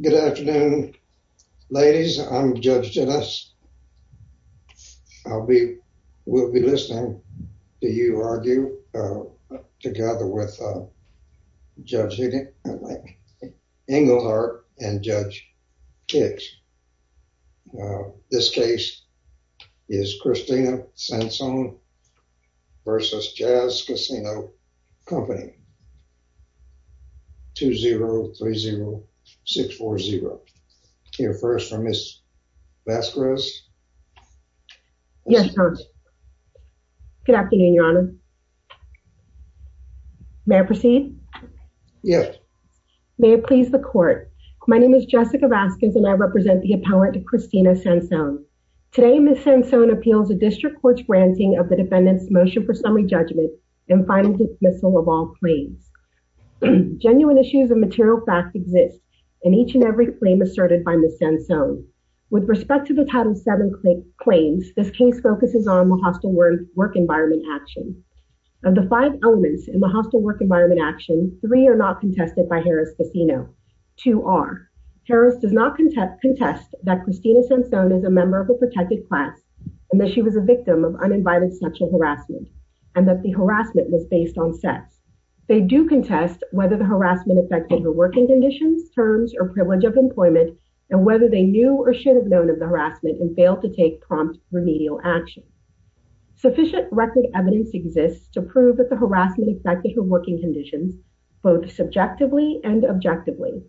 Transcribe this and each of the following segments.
Good afternoon, ladies. I'm Judge Dennis. I'll be, we'll be listening to you argue together with Judge Higgin, Englehart and Judge Higgs. This case is Christina Sansone versus Jazz Casino Company 2030640. Hear first from Ms. Vasquez. Yes, Tom. Good afternoon, Your Honor. May I proceed? Yes. May it please the court. My name is Jessica Vasquez and I represent the appellant Christina Sansone. Today Ms. Sansone appeals a district court's granting of the defendant's motion for summary judgment and final dismissal of all claims. Genuine issues of material fact exist and each and every claim asserted by Ms. Sansone. With respect to the Title VII claims, this case focuses on the hostile work environment action. Of the five elements in the hostile work environment action, three are not contested by Harris Casino. Two are Harris does not contest that Christina Sansone is a member of protected class and that she was a victim of uninvited sexual harassment and that the harassment was based on sex. They do contest whether the harassment affected her working conditions, terms or privilege of employment and whether they knew or should have known of the harassment and failed to take prompt remedial action. Sufficient record evidence exists to prove that the harassment affected her working conditions both subjectively and objectively.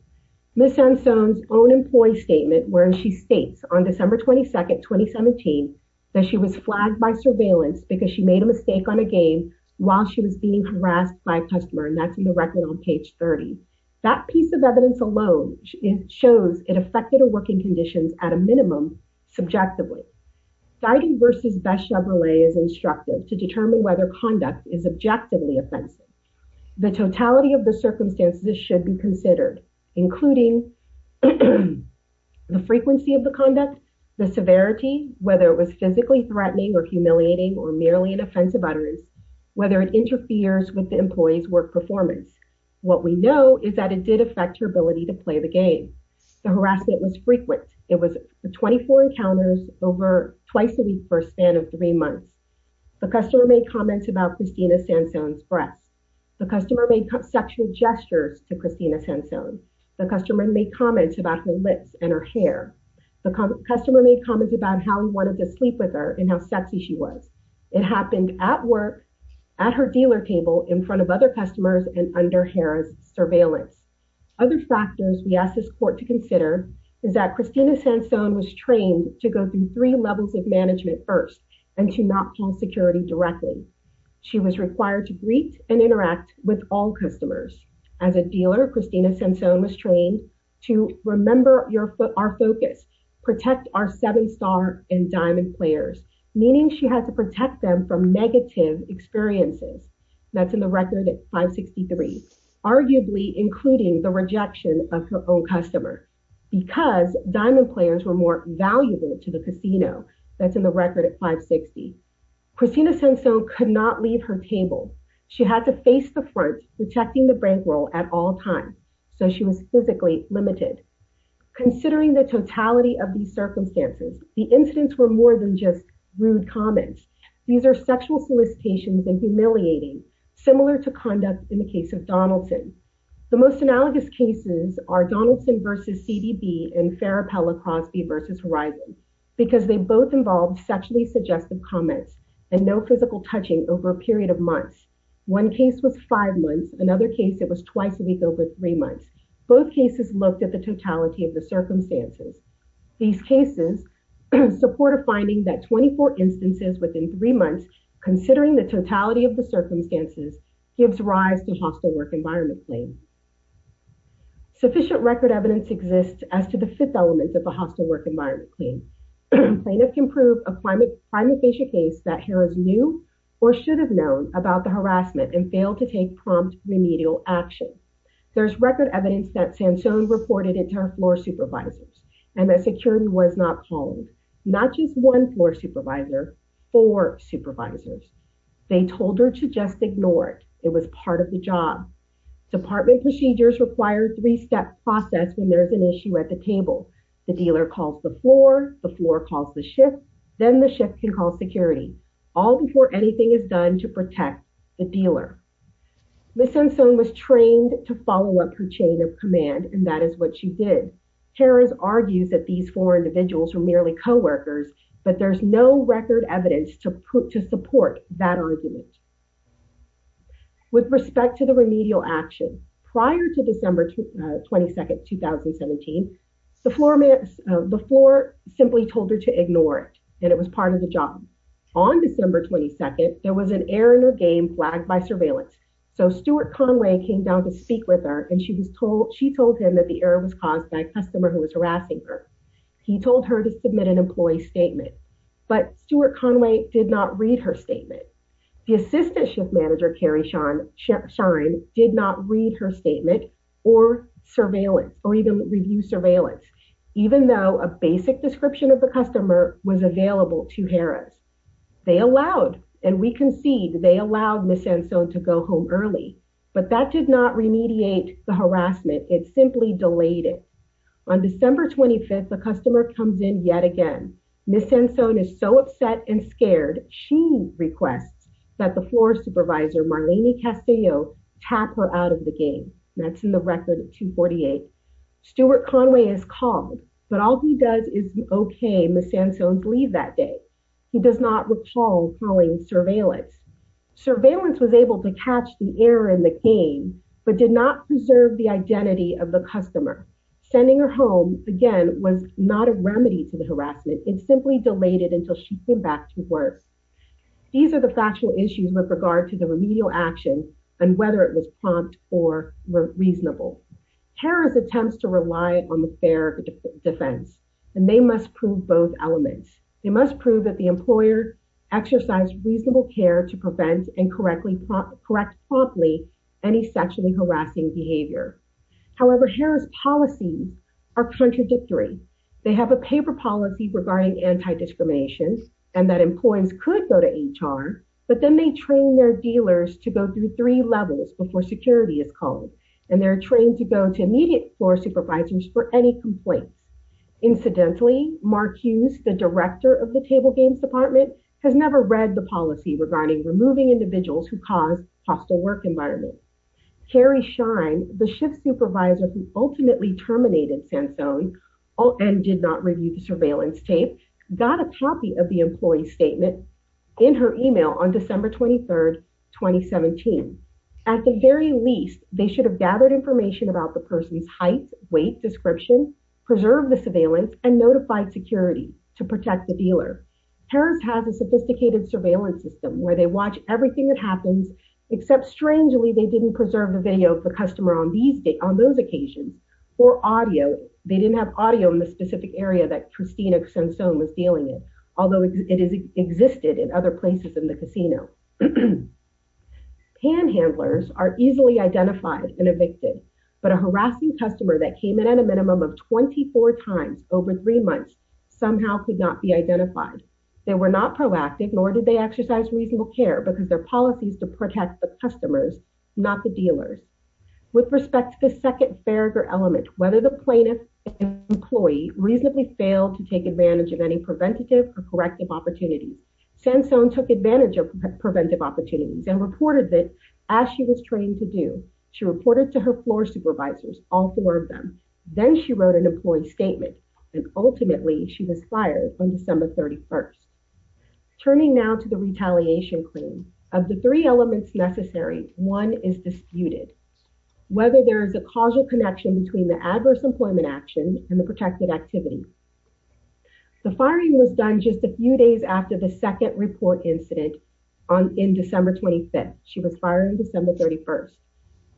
Ms. Sansone's own employee statement where she states on December 22nd 2017 that she was flagged by surveillance because she made a mistake on a game while she was being harassed by a customer and that's in the record on page 30. That piece of evidence alone shows it affected her working conditions at a minimum subjectively. Guiding versus best Chevrolet is instructive to determine whether conduct is objectively offensive. The totality of the circumstances should be considered including the frequency of the conduct, the severity, whether it was physically threatening or humiliating or merely an offensive utterance, whether it interferes with the employee's work performance. What we know is that it did affect her ability to play the game. The harassment was frequent. It was 24 encounters over twice a week for a span of three months. The customer made comments about Christina Sansone's breasts. The customer made sexual gestures to Christina Sansone. The customer made comments about her lips and her hair. The customer made comments about how he wanted to sleep with her and how sexy she was. It happened at work at her dealer table in front of other customers and under Harrah's surveillance. Other factors we asked this court to consider is that Christina Sansone was trained to go through three levels of management first and to not feel security directed. She was required to greet and interact with all customers. As a dealer, Christina Sansone was trained to remember our focus, protect our seven-star and diamond players, meaning she had to protect them from negative experiences. That's in the record at 563, arguably including the rejection of her own customer because diamond players were more valuable to the casino. That's in the record at 560. Christina Sansone could not leave her table. She had to face the front, protecting the bankroll at all times, so she was physically limited. Considering the totality of these circumstances, the incidents were more than just rude comments. These are sexual solicitations and humiliating, similar to conduct in the case of Donaldson. The most analogous cases are Donaldson v. CDB and Farapella Crosby v. Horizon because they both involved sexually suggestive comments and no physical touching over a period of months. One case was five months. Another case, it was twice a week over three months. Both cases looked at the totality of the circumstances. These cases support a finding that 24 instances within three months, considering the totality of the circumstances, gives rise to hostile work environment claim. Sufficient record evidence exists as to the fifth element of the hostile work environment claim. Plaintiffs can prove a climate-basic case that heroes knew or should have known about the harassment and failed to take prompt remedial action. There's record evidence that Sansone reported it to her floor supervisors and that security was not calling. Not just one floor supervisor, four supervisors. They told her to just ignore it. It was part of the job. Department procedures require a three-step process when there's an issue at the table. The dealer calls the floor, the floor calls the shift, then the shift can call security. All before anything is done to protect the dealer. Ms. Sansone was trained to follow up her chain of command and that is what she did. Harris argues that these four individuals were merely coworkers, but there's no record evidence to support that argument. With respect to the remedial action, prior to December 22nd, 2017, the floor simply told her to ignore it and it was part of the job. On December 22nd, there was an error in her game flagged by surveillance. So Stuart Conway came down to speak with her and she was told, she told him that the error was caused by a customer who was harassing her. He told her to submit an employee statement, but Stuart Conway did not read her statement. The assistant shift manager, Carrie Sharn, did not read her statement or surveillance or even review surveillance. Even though a basic description of the customer was available to Harris. They allowed, and we concede, they allowed Ms. Sansone to go home early, but that did not remediate the harassment. It simply delayed it. On December 25th, the customer comes in yet again. Ms. Sansone is so upset and scared, she requests that the floor supervisor, Marlene Castillo, tap her out of the game. That's in the record at 248. Stuart Conway is called, but all he does is okay Ms. Sansone's leave that day. He does not recall calling surveillance. Surveillance was able to catch the error in the game, but did not preserve the identity of the customer. Sending her home, again, was not a remedy to the harassment. It simply delayed it until she came back to work. These are the factual issues with regard to the remedial action and whether it was prompt or reasonable. Harris attempts to rely on the fair defense and they must prove both elements. They must prove that the employer exercised reasonable care to prevent and correct promptly any sexually harassing behavior. However, Harris policies are contradictory. They have a paper policy regarding anti-discrimination and that employees could go to levels before security is called and they're trained to go to immediate floor supervisors for any complaints. Incidentally, Mark Hughes, the director of the table games department, has never read the policy regarding removing individuals who cause hostile work environment. Carrie Shine, the shift supervisor who ultimately terminated Sansone and did not review the policy. At the very least, they should have gathered information about the person's height, weight, description, preserved the surveillance, and notified security to protect the dealer. Harris has a sophisticated surveillance system where they watch everything that happens, except strangely they didn't preserve the video of the customer on those occasions or audio. They didn't have audio in the specific area that Christina Sansone was dealing in, existed in other places in the casino. Panhandlers are easily identified and evicted, but a harassing customer that came in at a minimum of 24 times over three months somehow could not be identified. They were not proactive, nor did they exercise reasonable care because their policies to protect the customers, not the dealers. With respect to the second fair element, whether the plaintiff employee reasonably failed to take advantage of any preventative or corrective opportunity, Sansone took advantage of preventive opportunities and reported that as she was trained to do, she reported to her floor supervisors, all four of them. Then she wrote an employee statement and ultimately she was fired on December 31st. Turning now to the retaliation claim, of the three elements necessary, one is disputed. Whether there is a causal connection between the adverse employment action and the protected activity. The firing was done just a few days after the second report incident in December 25th. She was fired on December 31st.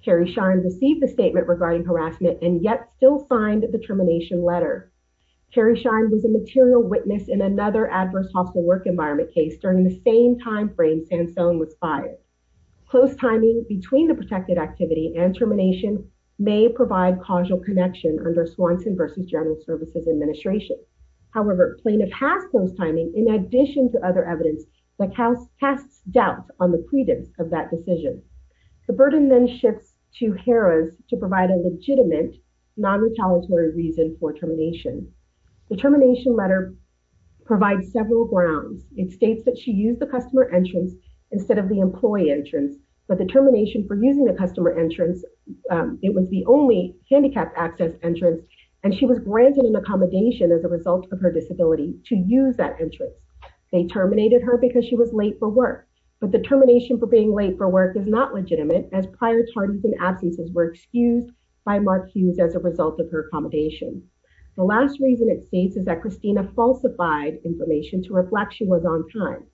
Carrie Shine received a statement regarding harassment and yet still signed the termination letter. Carrie Shine was a material witness in another adverse hospital work environment case during the same timeframe Sansone was fired. Close timing between the protected activity and termination may provide causal connection under Swanson versus General Administration. However, plaintiff has closed timing in addition to other evidence that casts doubt on the credence of that decision. The burden then shifts to Harris to provide a legitimate non-retaliatory reason for termination. The termination letter provides several grounds. It states that she used the customer entrance instead of the employee entrance, but the termination for using the customer entrance, it was the only handicapped access entrance and she was granted an accommodation as a result of her disability to use that entrance. They terminated her because she was late for work, but the termination for being late for work is not legitimate as prior tardies and absences were excused by Mark Hughes as a result of her accommodation. The last reason it states is that Christina falsified information to reflect she was on time.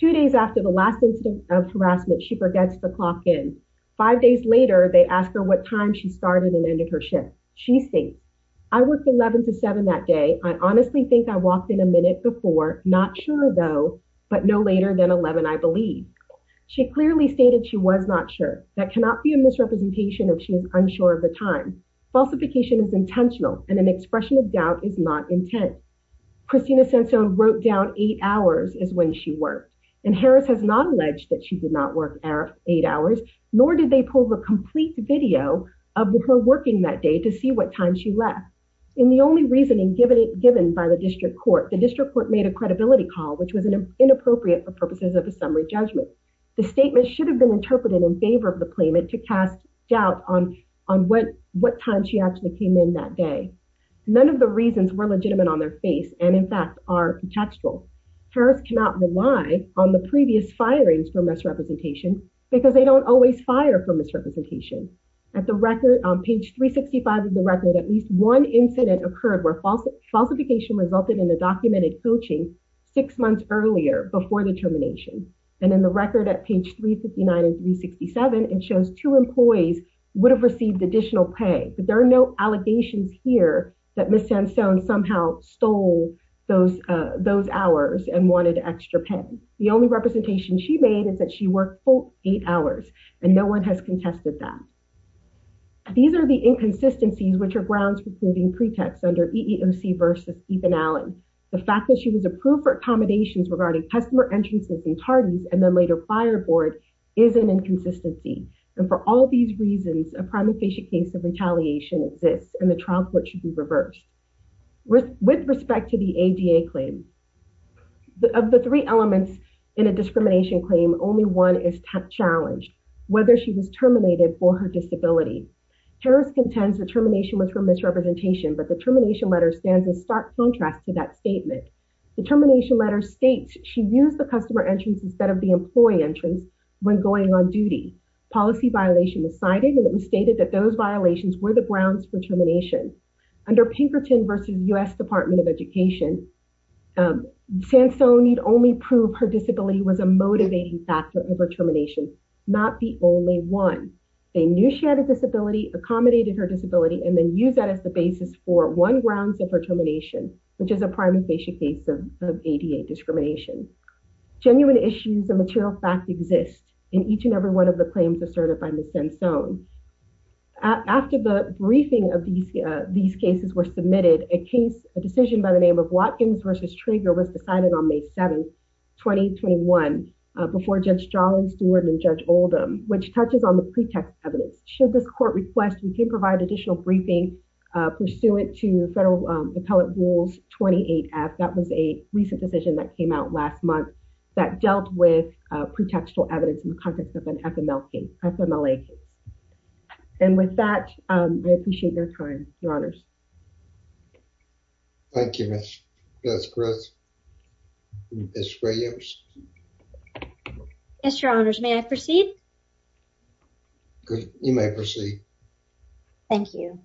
Two days after the last incident of harassment, she forgets to clock in. Five days later, they ask her what time she started and ended her shift. She states, I worked 11 to 7 that day. I honestly think I walked in a minute before. Not sure though, but no later than 11, I believe. She clearly stated she was not sure. That cannot be a misrepresentation if she is unsure of the time. Falsification is intentional and an expression of doubt is not intent. Christina Swanson wrote down eight hours is when she worked and Harris has not alleged that she did not work eight hours, nor did they pull the complete video of her working that day to see what time she left. In the only reasoning given by the district court, the district court made a credibility call which was inappropriate for purposes of a summary judgment. The statement should have been interpreted in favor of the claimant to cast doubt on what time she actually came in that day. None of the reasons were legitimate on their face and in fact are contextual. Harris cannot rely on the previous firings for misrepresentation because they don't always fire for misrepresentation. On page 365 of the record, at least one incident occurred where falsification resulted in a documented coaching six months earlier before the termination. In the record at page 359 and 367, it shows two employees would have received additional pay, but there are no allegations here that Ms. Swanson somehow stole those hours and wanted extra pay. The only representation she made is that she worked eight hours and no one has contested that. These are the inconsistencies which are grounds for proving pretext under EEOC versus Stephen Allen. The fact that she was approved for accommodations regarding customer entrances and tardies and then later fire board is an inconsistency and for all these reasons, a primary case of retaliation exists and the reverse. With respect to the ADA claim, of the three elements in a discrimination claim, only one is challenged, whether she was terminated for her disability. Harris contends the termination was her misrepresentation, but the termination letter stands in stark contrast to that statement. The termination letter states she used the customer entrance instead of the employee entrance when going on duty. Policy violation was cited and it was stated that those violations were the under Pinkerton versus U.S. Department of Education. Sansone need only prove her disability was a motivating factor of her termination, not the only one. They knew she had a disability, accommodated her disability, and then used that as the basis for one grounds of her termination, which is a prime and basic case of ADA discrimination. Genuine issues of material fact exist in each and every one of the claims asserted by Ms. Sansone. After the briefing of these cases were submitted, a case, a decision by the name of Watkins versus Trigger was decided on May 7th, 2021, before Judge Jarlin, Steward, and Judge Oldham, which touches on the pretext evidence. Should this court request, we can provide additional briefing pursuant to Federal Appellate Rules 28F. That was a recent decision that came out last month that dealt with and with that, I appreciate your time, Your Honors. Thank you, Ms. Groth. Ms. Williams. Yes, Your Honors. May I proceed? Good. You may proceed. Thank you.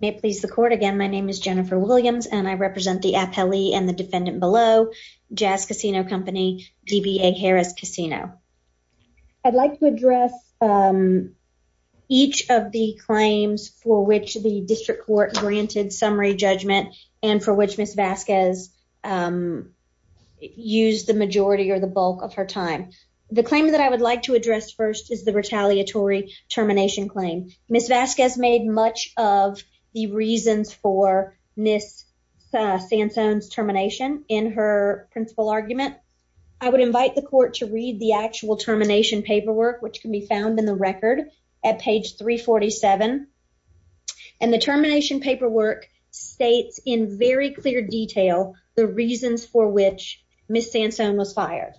May it please the court, again, my name is Jennifer Williams and I represent the appellee and the defendant below, Jazz Casino Company, DBA Harris Casino. I'd like to address each of the claims for which the district court granted summary judgment and for which Ms. Vasquez used the majority or the bulk of her time. The claim that I would like to address first is the retaliatory termination claim. Ms. Vasquez made much of the reasons for Ms. Sansone's termination in her principal argument. I would invite the actual termination paperwork, which can be found in the record at page 347, and the termination paperwork states in very clear detail the reasons for which Ms. Sansone was fired.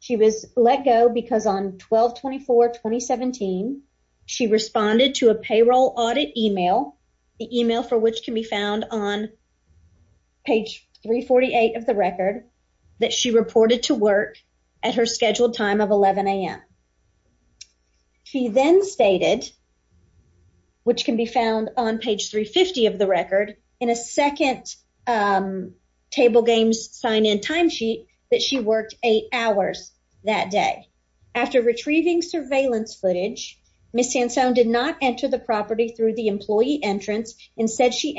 She was let go because on 12-24-2017, she responded to a payroll audit email, the email for which can be found on page 348 of the record, that she reported to work at her scheduled time of 11 a.m. She then stated, which can be found on page 350 of the record, in a second table games sign-in time sheet that she worked eight hours that day. After retrieving surveillance footage, Ms. Sansone did not enter the property through the employee entrance. Instead, she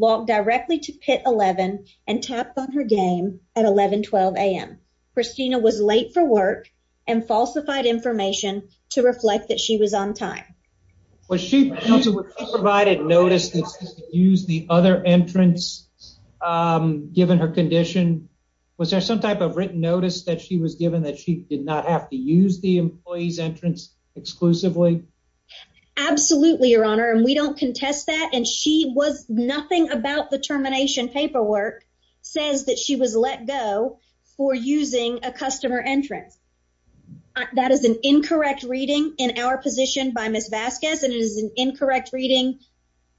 walked directly to pit 11 and tapped on her game at 11-12 a.m. Christina was late for work and falsified information to reflect that she was on time. Was she provided notice to use the other entrance given her condition? Was there some type of written notice that she was given that she did not have to use the employee's entrance exclusively? Absolutely, Your Honor, and we don't contest that, and nothing about the termination paperwork says that she was let go for using a customer entrance. That is an incorrect reading in our position by Ms. Vasquez, and it is an incorrect reading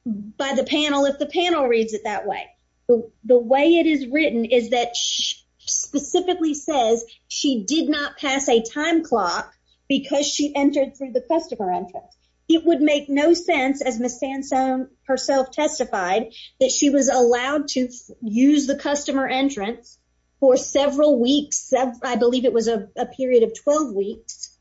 by the panel if the panel reads it that way. The way it is written is that she specifically says she did not pass a time clock because she would make no sense, as Ms. Sansone herself testified, that she was allowed to use the customer entrance for several weeks. I believe it was a period of 12 weeks,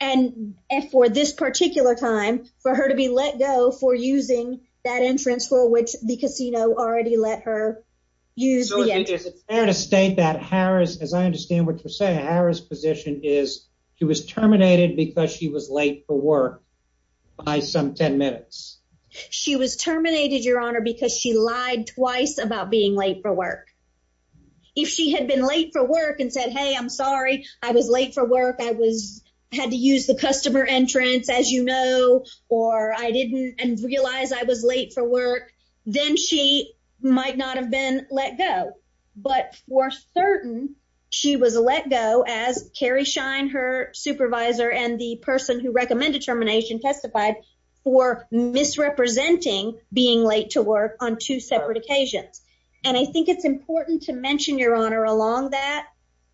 and for this particular time for her to be let go for using that entrance for which the casino already let her use. Is it fair to state that Harris, as I understand what you're saying, is she was terminated because she was late for work by some 10 minutes? She was terminated, Your Honor, because she lied twice about being late for work. If she had been late for work and said, hey, I'm sorry, I was late for work, I had to use the customer entrance, as you know, or I didn't realize I was late for work, then she might not have been let go. But we're certain she was let go, as Carrie Shine, her supervisor and the person who recommended termination testified, for misrepresenting being late to work on two separate occasions. And I think it's important to mention, Your Honor, along that,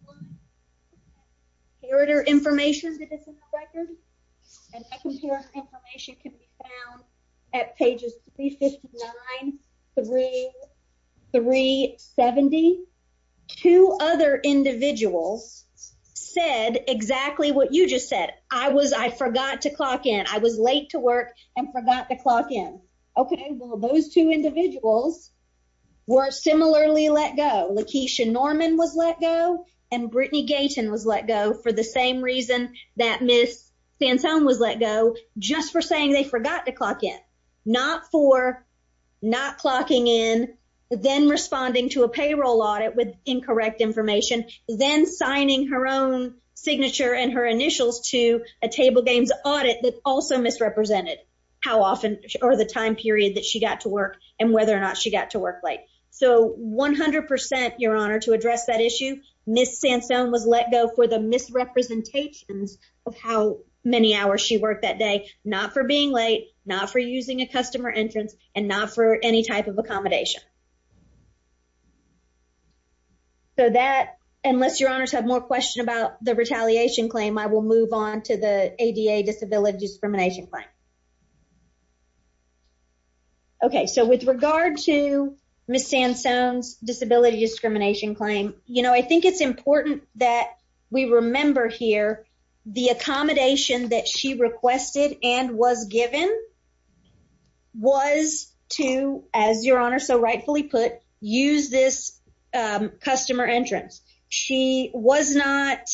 the inheritor information that is in the record, and that inheritor information can be found at pages 359 through 370. Two other individuals said exactly what you just said. I was, I forgot to clock in. I was late to work and forgot to clock in. Okay, well, those two individuals were similarly let go. Lakeisha Norman was let go, and Brittany Gayton was let go for the same reason that Ms. Santone was let go, just for saying they forgot to clock in. Not for not clocking in, then responding to a payroll audit with incorrect information, then signing her own signature and her initials to a table games audit that also misrepresented how often or the time period that she got to work and whether or not she got to work late. So, 100%, Your Honor, to address that issue, Ms. Santone was let go for the misrepresentations of how many hours she worked that day, not for being late, not for using a customer entrance, and not for any type of accommodation. So that, unless Your Honors have more questions about the retaliation claim, I will move on to the ADA disability discrimination claim. Okay, so with regard to Ms. Santone's disability discrimination claim, you know, I think it's important that we remember here the accommodation that she requested and was given was to, as Your Honor so rightfully put, use this customer entrance. She was not,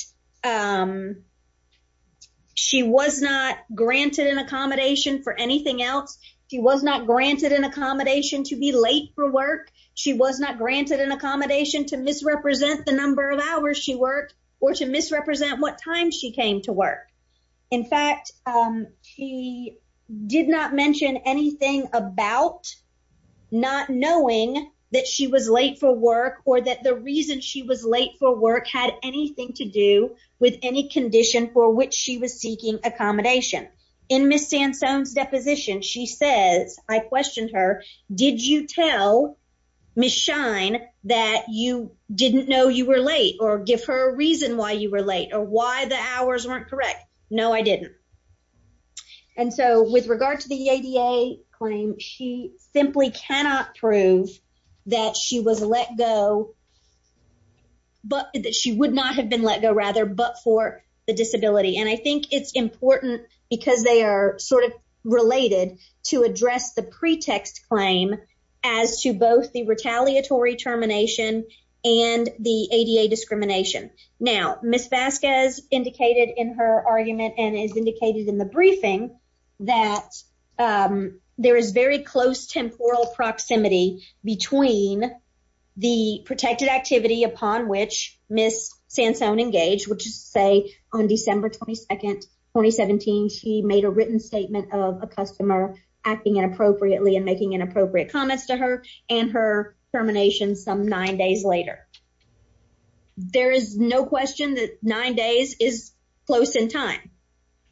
she was not granted an accommodation for anything else. She was not granted an accommodation to be late for work. She was not granted an accommodation to misrepresent the number of hours she worked or to misrepresent what time she came to work. In fact, she did not mention anything about not knowing that she was late for work or that the reason she was late for work had anything to do with any condition for which she was seeking accommodation. In Ms. Santone's deposition, she says, I questioned her, did you tell Ms. Shine that you didn't know you were late or give her a reason why you were late or why the hours weren't correct? No, I didn't. And so, with regard to the ADA claim, she simply cannot prove that she was let go, but that she would not have been let go rather, but for the disability. And I think it's important because they are sort of related to address the pretext claim as to both the retaliatory termination and the ADA discrimination. Now, Ms. Vasquez indicated in her argument and is upon which Ms. Santone engaged, which is to say on December 22nd, 2017, she made a written statement of a customer acting inappropriately and making inappropriate comments to her and her termination some nine days later. There is no question that nine days is close in time.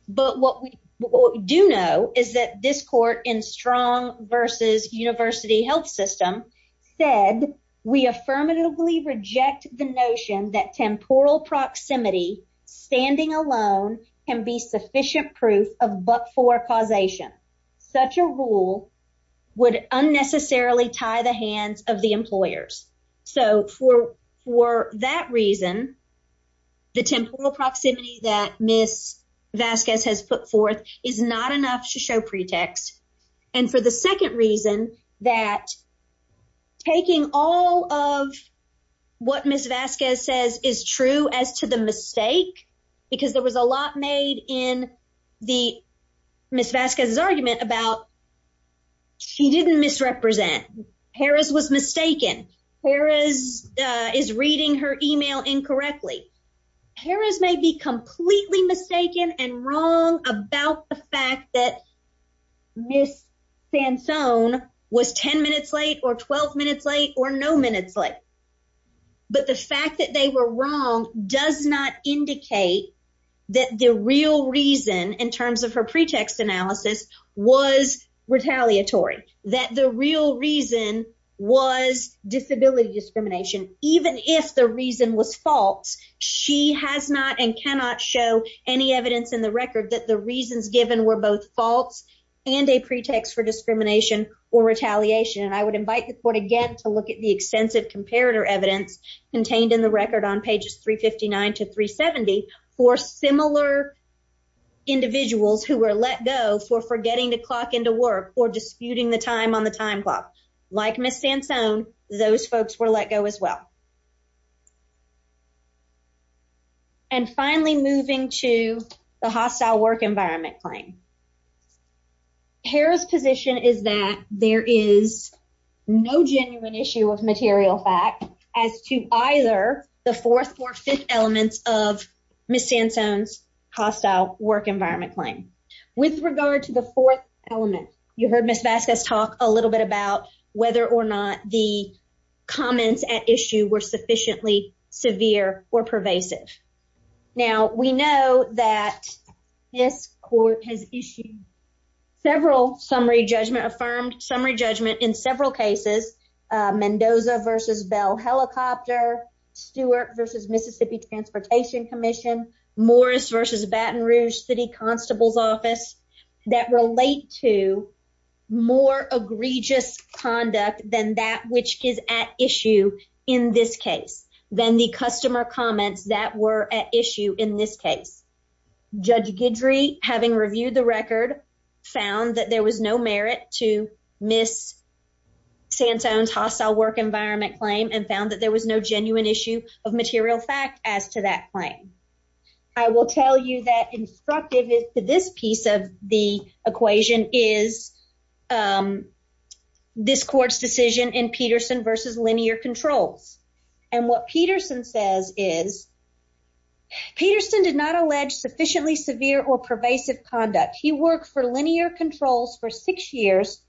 But what we do know is that this court in Strong v. University Health System said, we affirmatively reject the notion that temporal proximity standing alone can be sufficient proof of but-for causation. Such a rule would unnecessarily tie the hands of the employers. So, for that reason, the temporal proximity that Ms. Vasquez has put forth is not enough to show pretext. And for the second reason, that taking all of what Ms. Vasquez says is true as to the mistake, because there was a lot made in Ms. Vasquez's argument about she didn't misrepresent, Harris was mistaken, Harris is reading her email incorrectly. Harris may be completely mistaken and wrong about the fact that Ms. Santone was 10 minutes late or 12 minutes late or no minutes late. But the fact that they were wrong does not indicate that the real reason in terms of her reason was disability discrimination. Even if the reason was false, she has not and cannot show any evidence in the record that the reasons given were both false and a pretext for discrimination or retaliation. And I would invite the court again to look at the extensive comparator evidence contained in the record on pages 359 to 370 for similar individuals who were let go for getting the clock into work or disputing the time on the time clock. Like Ms. Santone, those folks were let go as well. And finally, moving to the hostile work environment claim. Harris position is that there is no genuine issue of material fact as to either the fourth or fifth elements of Ms. Santone's hostile work environment claim. With regard to the fourth element, you heard Ms. Vasquez talk a little bit about whether or not the comments at issue were sufficiently severe or pervasive. Now, we know that this court has issued several summary judgment, affirmed summary judgment in several cases, Mendoza v. Bell Helicopter, Stewart v. Mississippi Transportation Commission, Morris v. Baton Rouge City Constable's Office, that relate to more egregious conduct than that which is at issue in this case, than the customer comments that were at issue in this case. Judge Guidry, having reviewed the record, found that there was no merit to Ms. Santone's hostile work environment claim and found that there was no genuine issue of material fact as to that claim. I will tell you that instructive to this piece of the equation is this court's decision in Peterson v. Linear Controls. And what Peterson says is, Peterson did not allege sufficiently severe or pervasive conduct. He worked for linear controls for six years,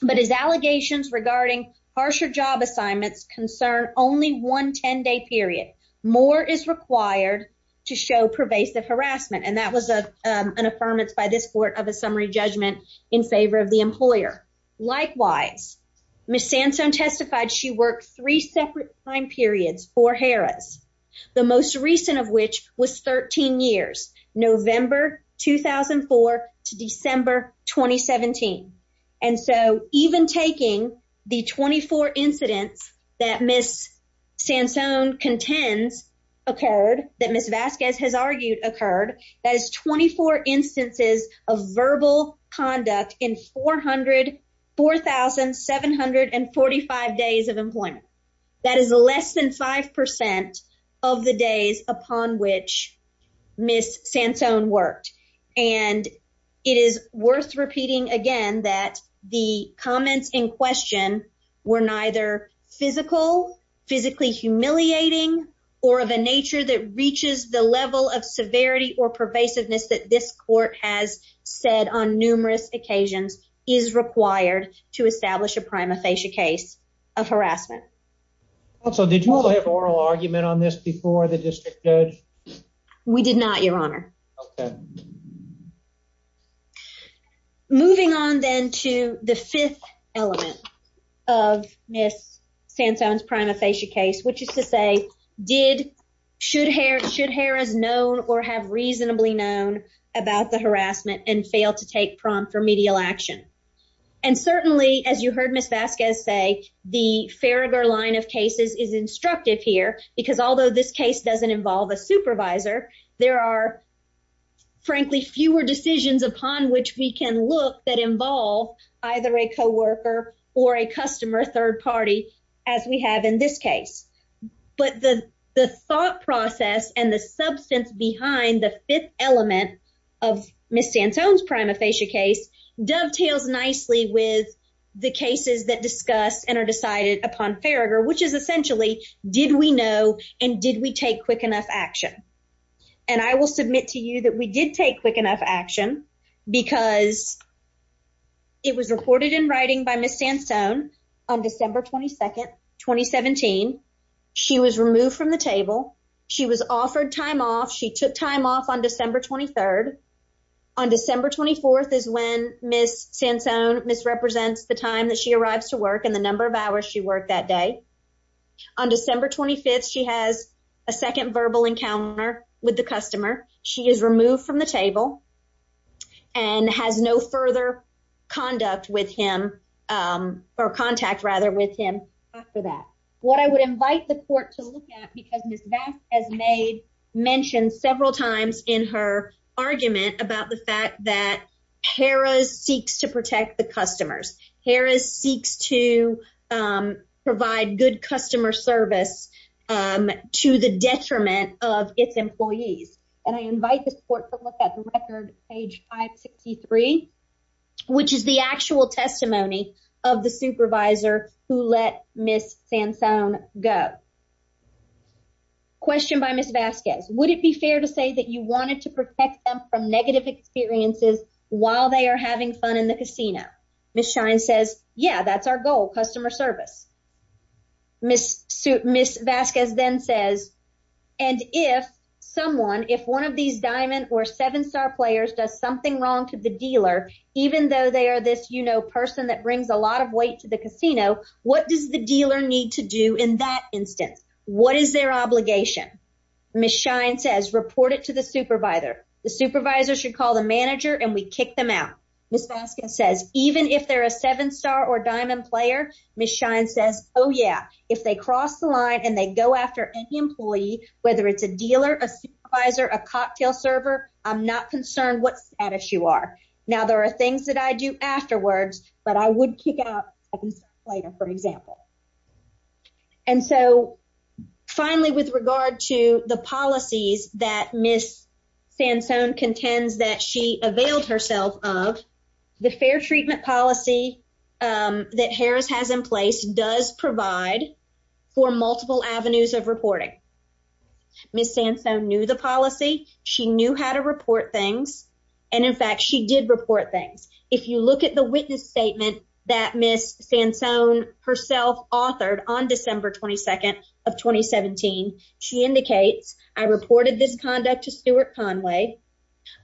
but his allegations regarding harsher job assignments concern only one 10-day period. More is required to show pervasive harassment. And that was an affirmance by this court of a summary judgment in favor of the employer. Likewise, Ms. Santone testified she worked three separate time periods for Harrah's, the most recent of which was 13 years, November 2004 to December 2017. And so even taking the 24 incidents that Ms. Santone contends occurred, that Ms. Vasquez has argued occurred, that is 24 instances of verbal conduct in 4,745 days of and it is worth repeating again that the comments in question were neither physical, physically humiliating, or of a nature that reaches the level of severity or pervasiveness that this court has said on numerous occasions is required to establish a prima facie case of harassment. Also, did you all have oral argument on this before the district judge? We did not, Your Honor. Okay. Moving on then to the fifth element of Ms. Santone's prima facie case, which is to say, did, should Harrah's known or have reasonably known about the harassment and failed to take prompt remedial action? And certainly, as you heard Ms. Vasquez say, the Farragher line of there are, frankly, fewer decisions upon which we can look that involve either a coworker or a customer, third party, as we have in this case. But the thought process and the substance behind the fifth element of Ms. Santone's prima facie case dovetails nicely with the cases that discuss and are decided upon Farragher, which is essentially, did we know and did we take quick enough action? And I will submit to you that we did take quick enough action because it was recorded in writing by Ms. Santone on December 22nd, 2017. She was removed from the table. She was offered time off. She took time off on December 23rd. On December 24th is when Ms. Santone misrepresents the time that she arrives to work and the number of hours she that day. On December 25th, she has a second verbal encounter with the customer. She is removed from the table and has no further conduct with him or contact, rather, with him after that. What I would invite the court to look at, because Ms. Vasquez has made mentioned several times in her argument about the fact that Harris seeks to protect the customers. Harris seeks to provide good customer service to the detriment of its employees. And I invite the court to look at the record, page 563, which is the actual testimony of the supervisor who let Ms. Santone go. Question by Ms. Vasquez. Would it be fair to say that you wanted to protect them from negative experiences while they are having fun in the casino? Ms. Shine says, yeah, that's our goal, customer service. Ms. Vasquez then says, and if someone, if one of these diamond or seven star players does something wrong to the dealer, even though they are this, you know, person that brings a lot of weight to the casino, what does the dealer need to do in that instance? What is their obligation? Ms. Shine says, report it to the supervisor. The supervisor should call the manager and we kick them out. Ms. Vasquez says, even if they're a seven star or diamond player, Ms. Shine says, oh yeah, if they cross the line and they go after any employee, whether it's a dealer, a supervisor, a cocktail server, I'm not concerned what status you are. Now there are things that I do afterwards, but I would kick out later, for example. And so finally, with regard to the policies that Ms. Santone contends that she availed herself of, the fair treatment policy that Harris has in place does provide for multiple avenues of reporting. Ms. Santone knew the policy. She knew how to report things. And in fact, she did report things. If you look at the witness statement that Ms. Santone herself authored on December 22nd of 2017, she indicates, I reported this conduct to Stewart Conway.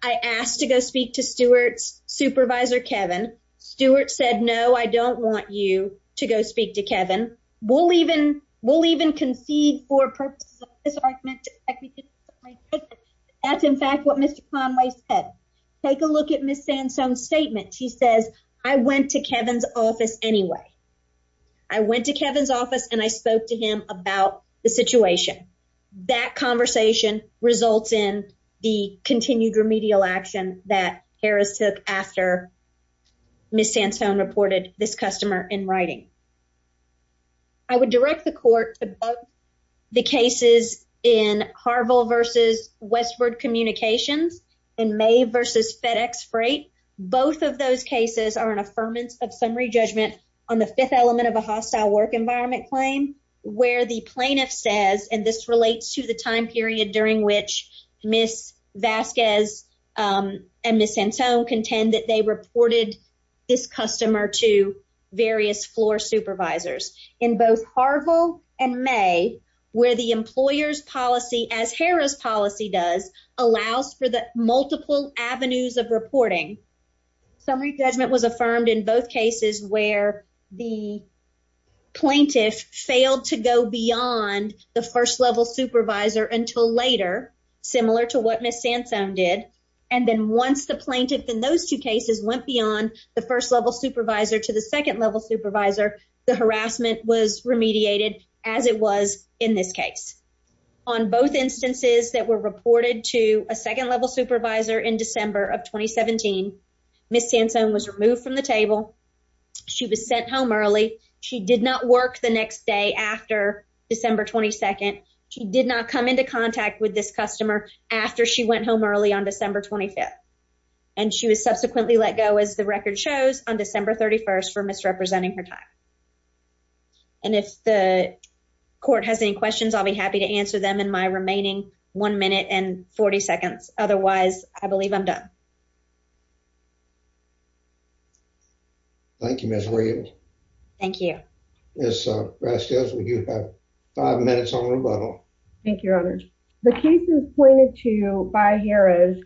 I asked to go speak to Stewart's supervisor, Kevin. Stewart said, no, I don't want you to go speak to Kevin. We'll even, for purposes of this argument, that's in fact what Mr. Conway said. Take a look at Ms. Santone's statement. She says, I went to Kevin's office anyway. I went to Kevin's office and I spoke to him about the situation. That conversation results in the continued remedial action that Harris took after Ms. Santone reported this customer in writing. I would direct the court to both the cases in Harville versus Westford Communications and May versus FedEx Freight. Both of those cases are an affirmance of summary judgment on the fifth element of a hostile work environment claim, where the plaintiff says, and this relates to the time period during which Ms. Vasquez and Ms. Santone contend that they in both Harville and May, where the employer's policy, as Harris policy does, allows for the multiple avenues of reporting. Summary judgment was affirmed in both cases where the plaintiff failed to go beyond the first level supervisor until later, similar to what Ms. Santone did. And then once the plaintiff in those two cases went beyond the first level supervisor to the second level supervisor, the harassment was remediated as it was in this case. On both instances that were reported to a second level supervisor in December of 2017, Ms. Santone was removed from the table. She was sent home early. She did not work the next day after December 22nd. She did not come into contact with this customer after she went home early on December 25th, and she was subsequently let go as the record shows on December 31st for misrepresenting her time. And if the court has any questions, I'll be happy to answer them in my remaining one minute and 40 seconds. Otherwise, I believe I'm done. Thank you, Ms. Williams. Thank you. Ms. Vasquez, you have five minutes on rebuttal. Thank you, Your Honor. The cases pointed to by Jerez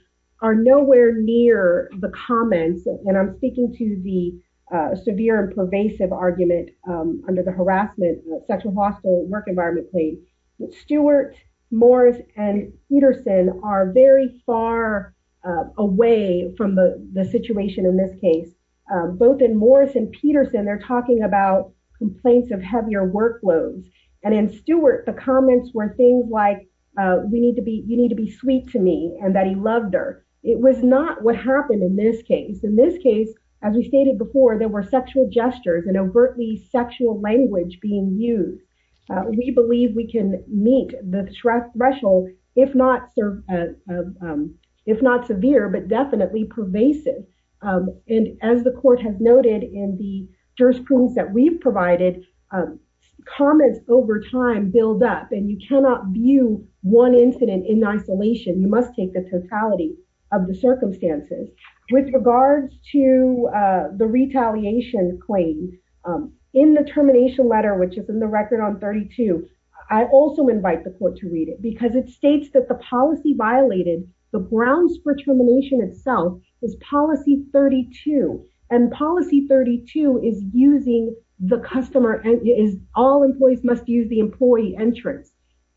are nowhere near the comments, and I'm speaking to the severe and pervasive argument under the harassment, sexual harassment, work environment claim. Stewart, Morris, and Peterson are very far away from the situation in this case. Both in Morris and Peterson, they're talking about complaints of heavier workloads. And in Stewart, the comments were things like, you need to be sweet to me, and that he loved her. It was not what happened in this case. In this case, as we stated before, there were sexual gestures and overtly sexual language being used. We believe we can meet the threshold if not severe, but definitely pervasive. And as the court has noted in the jurisprudence that we've provided, comments over time build up, and you cannot view one incident in isolation. You must take the totality of the circumstances. With regards to the retaliation claims, in the termination letter, which is in the record on 32, I also invite the court to read it because it states that the policy violated the grounds for termination itself is policy 32. And policy 32 is all employees must use the employee entrance.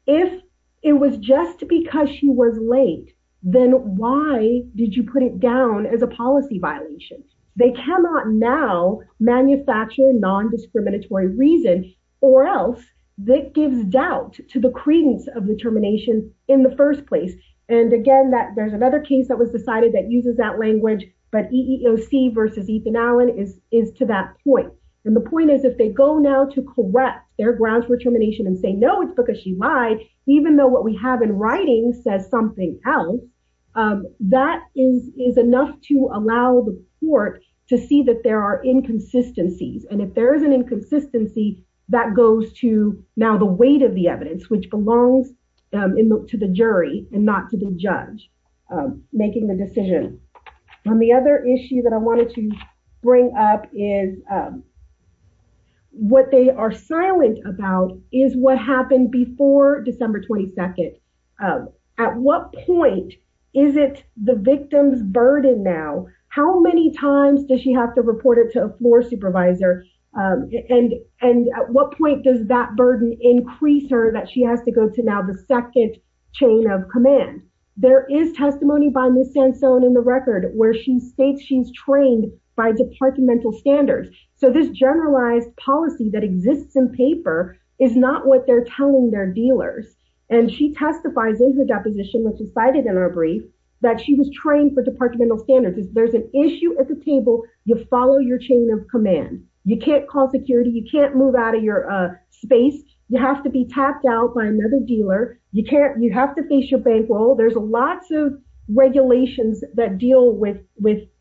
If it was just because she was late, then why did you put it down as a policy violation? They cannot now manufacture non-discriminatory reason or else that gives doubt to the credence of the termination in the first place. And again, there's another case that was decided that uses that language, but EEOC versus Ethan Allen is to that point. And the point is if they go now to correct their grounds for termination and say, no, it's because she lied, even though what we have in writing says something else, that is enough to allow the court to see that there are inconsistencies. And if there is an inconsistency that goes to now the weight of the evidence, which belongs to the jury and not to the judge making the decision. And the other issue that I wanted to bring up is what they are silent about is what happened before December 22nd. At what point is it the victim's burden now? How many times does she have to report it to a floor supervisor? And at what point does that burden increase her that she has to go to now the second chain of command? There is testimony by Ms. Sansone in the record where she states she's trained by departmental standards. So this generalized policy that exists in paper is not what they're telling their dealers. And she testifies in her deposition, which is cited in our brief, that she was trained for departmental standards. If there's an issue at the table, you follow your chain of command. You can't call security. You can't move out of your space. You have to be tapped out by another dealer. You have to face your bankroll. There's lots of regulations that deal with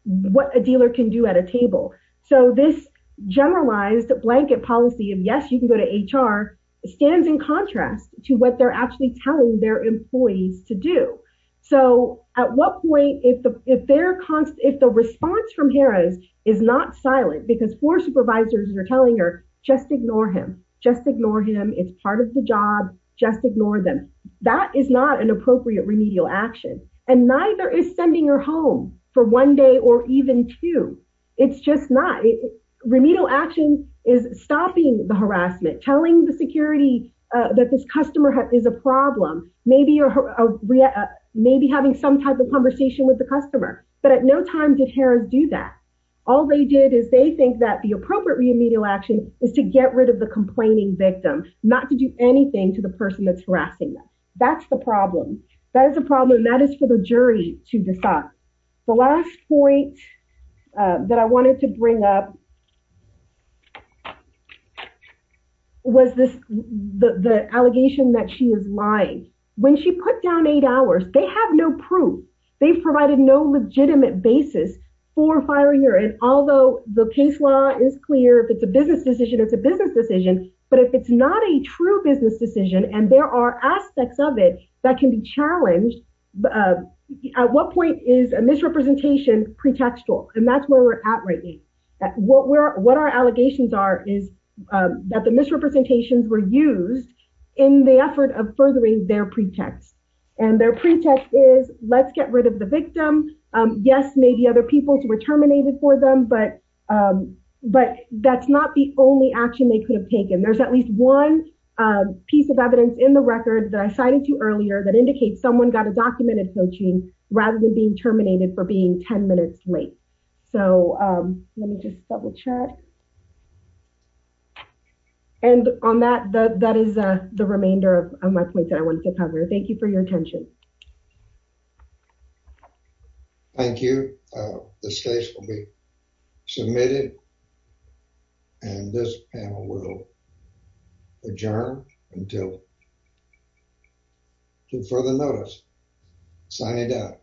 what a dealer can do at a table. So this generalized blanket policy of yes, you can go to HR stands in contrast to what they're actually telling their employees to do. So at what point, if the response from Harris is not silent because floor supervisors are telling her, just ignore him. Just ignore him. It's part of the job. Just ignore them. That is not an appropriate remedial action. And neither is sending her home for one day or even two. It's just not. Remedial action is stopping the harassment, telling the security that this customer is a problem, maybe having some type of conversation with the customer. But at no time did Harris do that. All they did is they think that the appropriate remedial action is to get rid of the complaining victim, not to do anything to the person that's harassing them. That's the problem. That is a problem. And that is for the jury to decide. The last point that I wanted to bring up was the allegation that she is lying. When she put down eight hours, they have no proof. They've provided no legitimate basis for firing her. And although the case law is clear, if it's a business decision, it's a business decision. But if it's not a true business decision and there are aspects of it that can be challenged, at what point is a misrepresentation pretextual? And that's where we're at right now. What our allegations are is that the misrepresentations were used in the effort of furthering their pretext. And their pretext is let's get rid of the victim. Yes, maybe other people were terminated for them, but that's not the only action they could have taken. There's at least one piece of evidence in the record that I cited to earlier that indicates someone got a documented coaching rather than being terminated for being 10 minutes late. So let me just double check. And on that, that is the remainder of my point that I wanted to cover. Thank you for your attention. Thank you. This case will be submitted and this panel will adjourn until further notice. Signing out.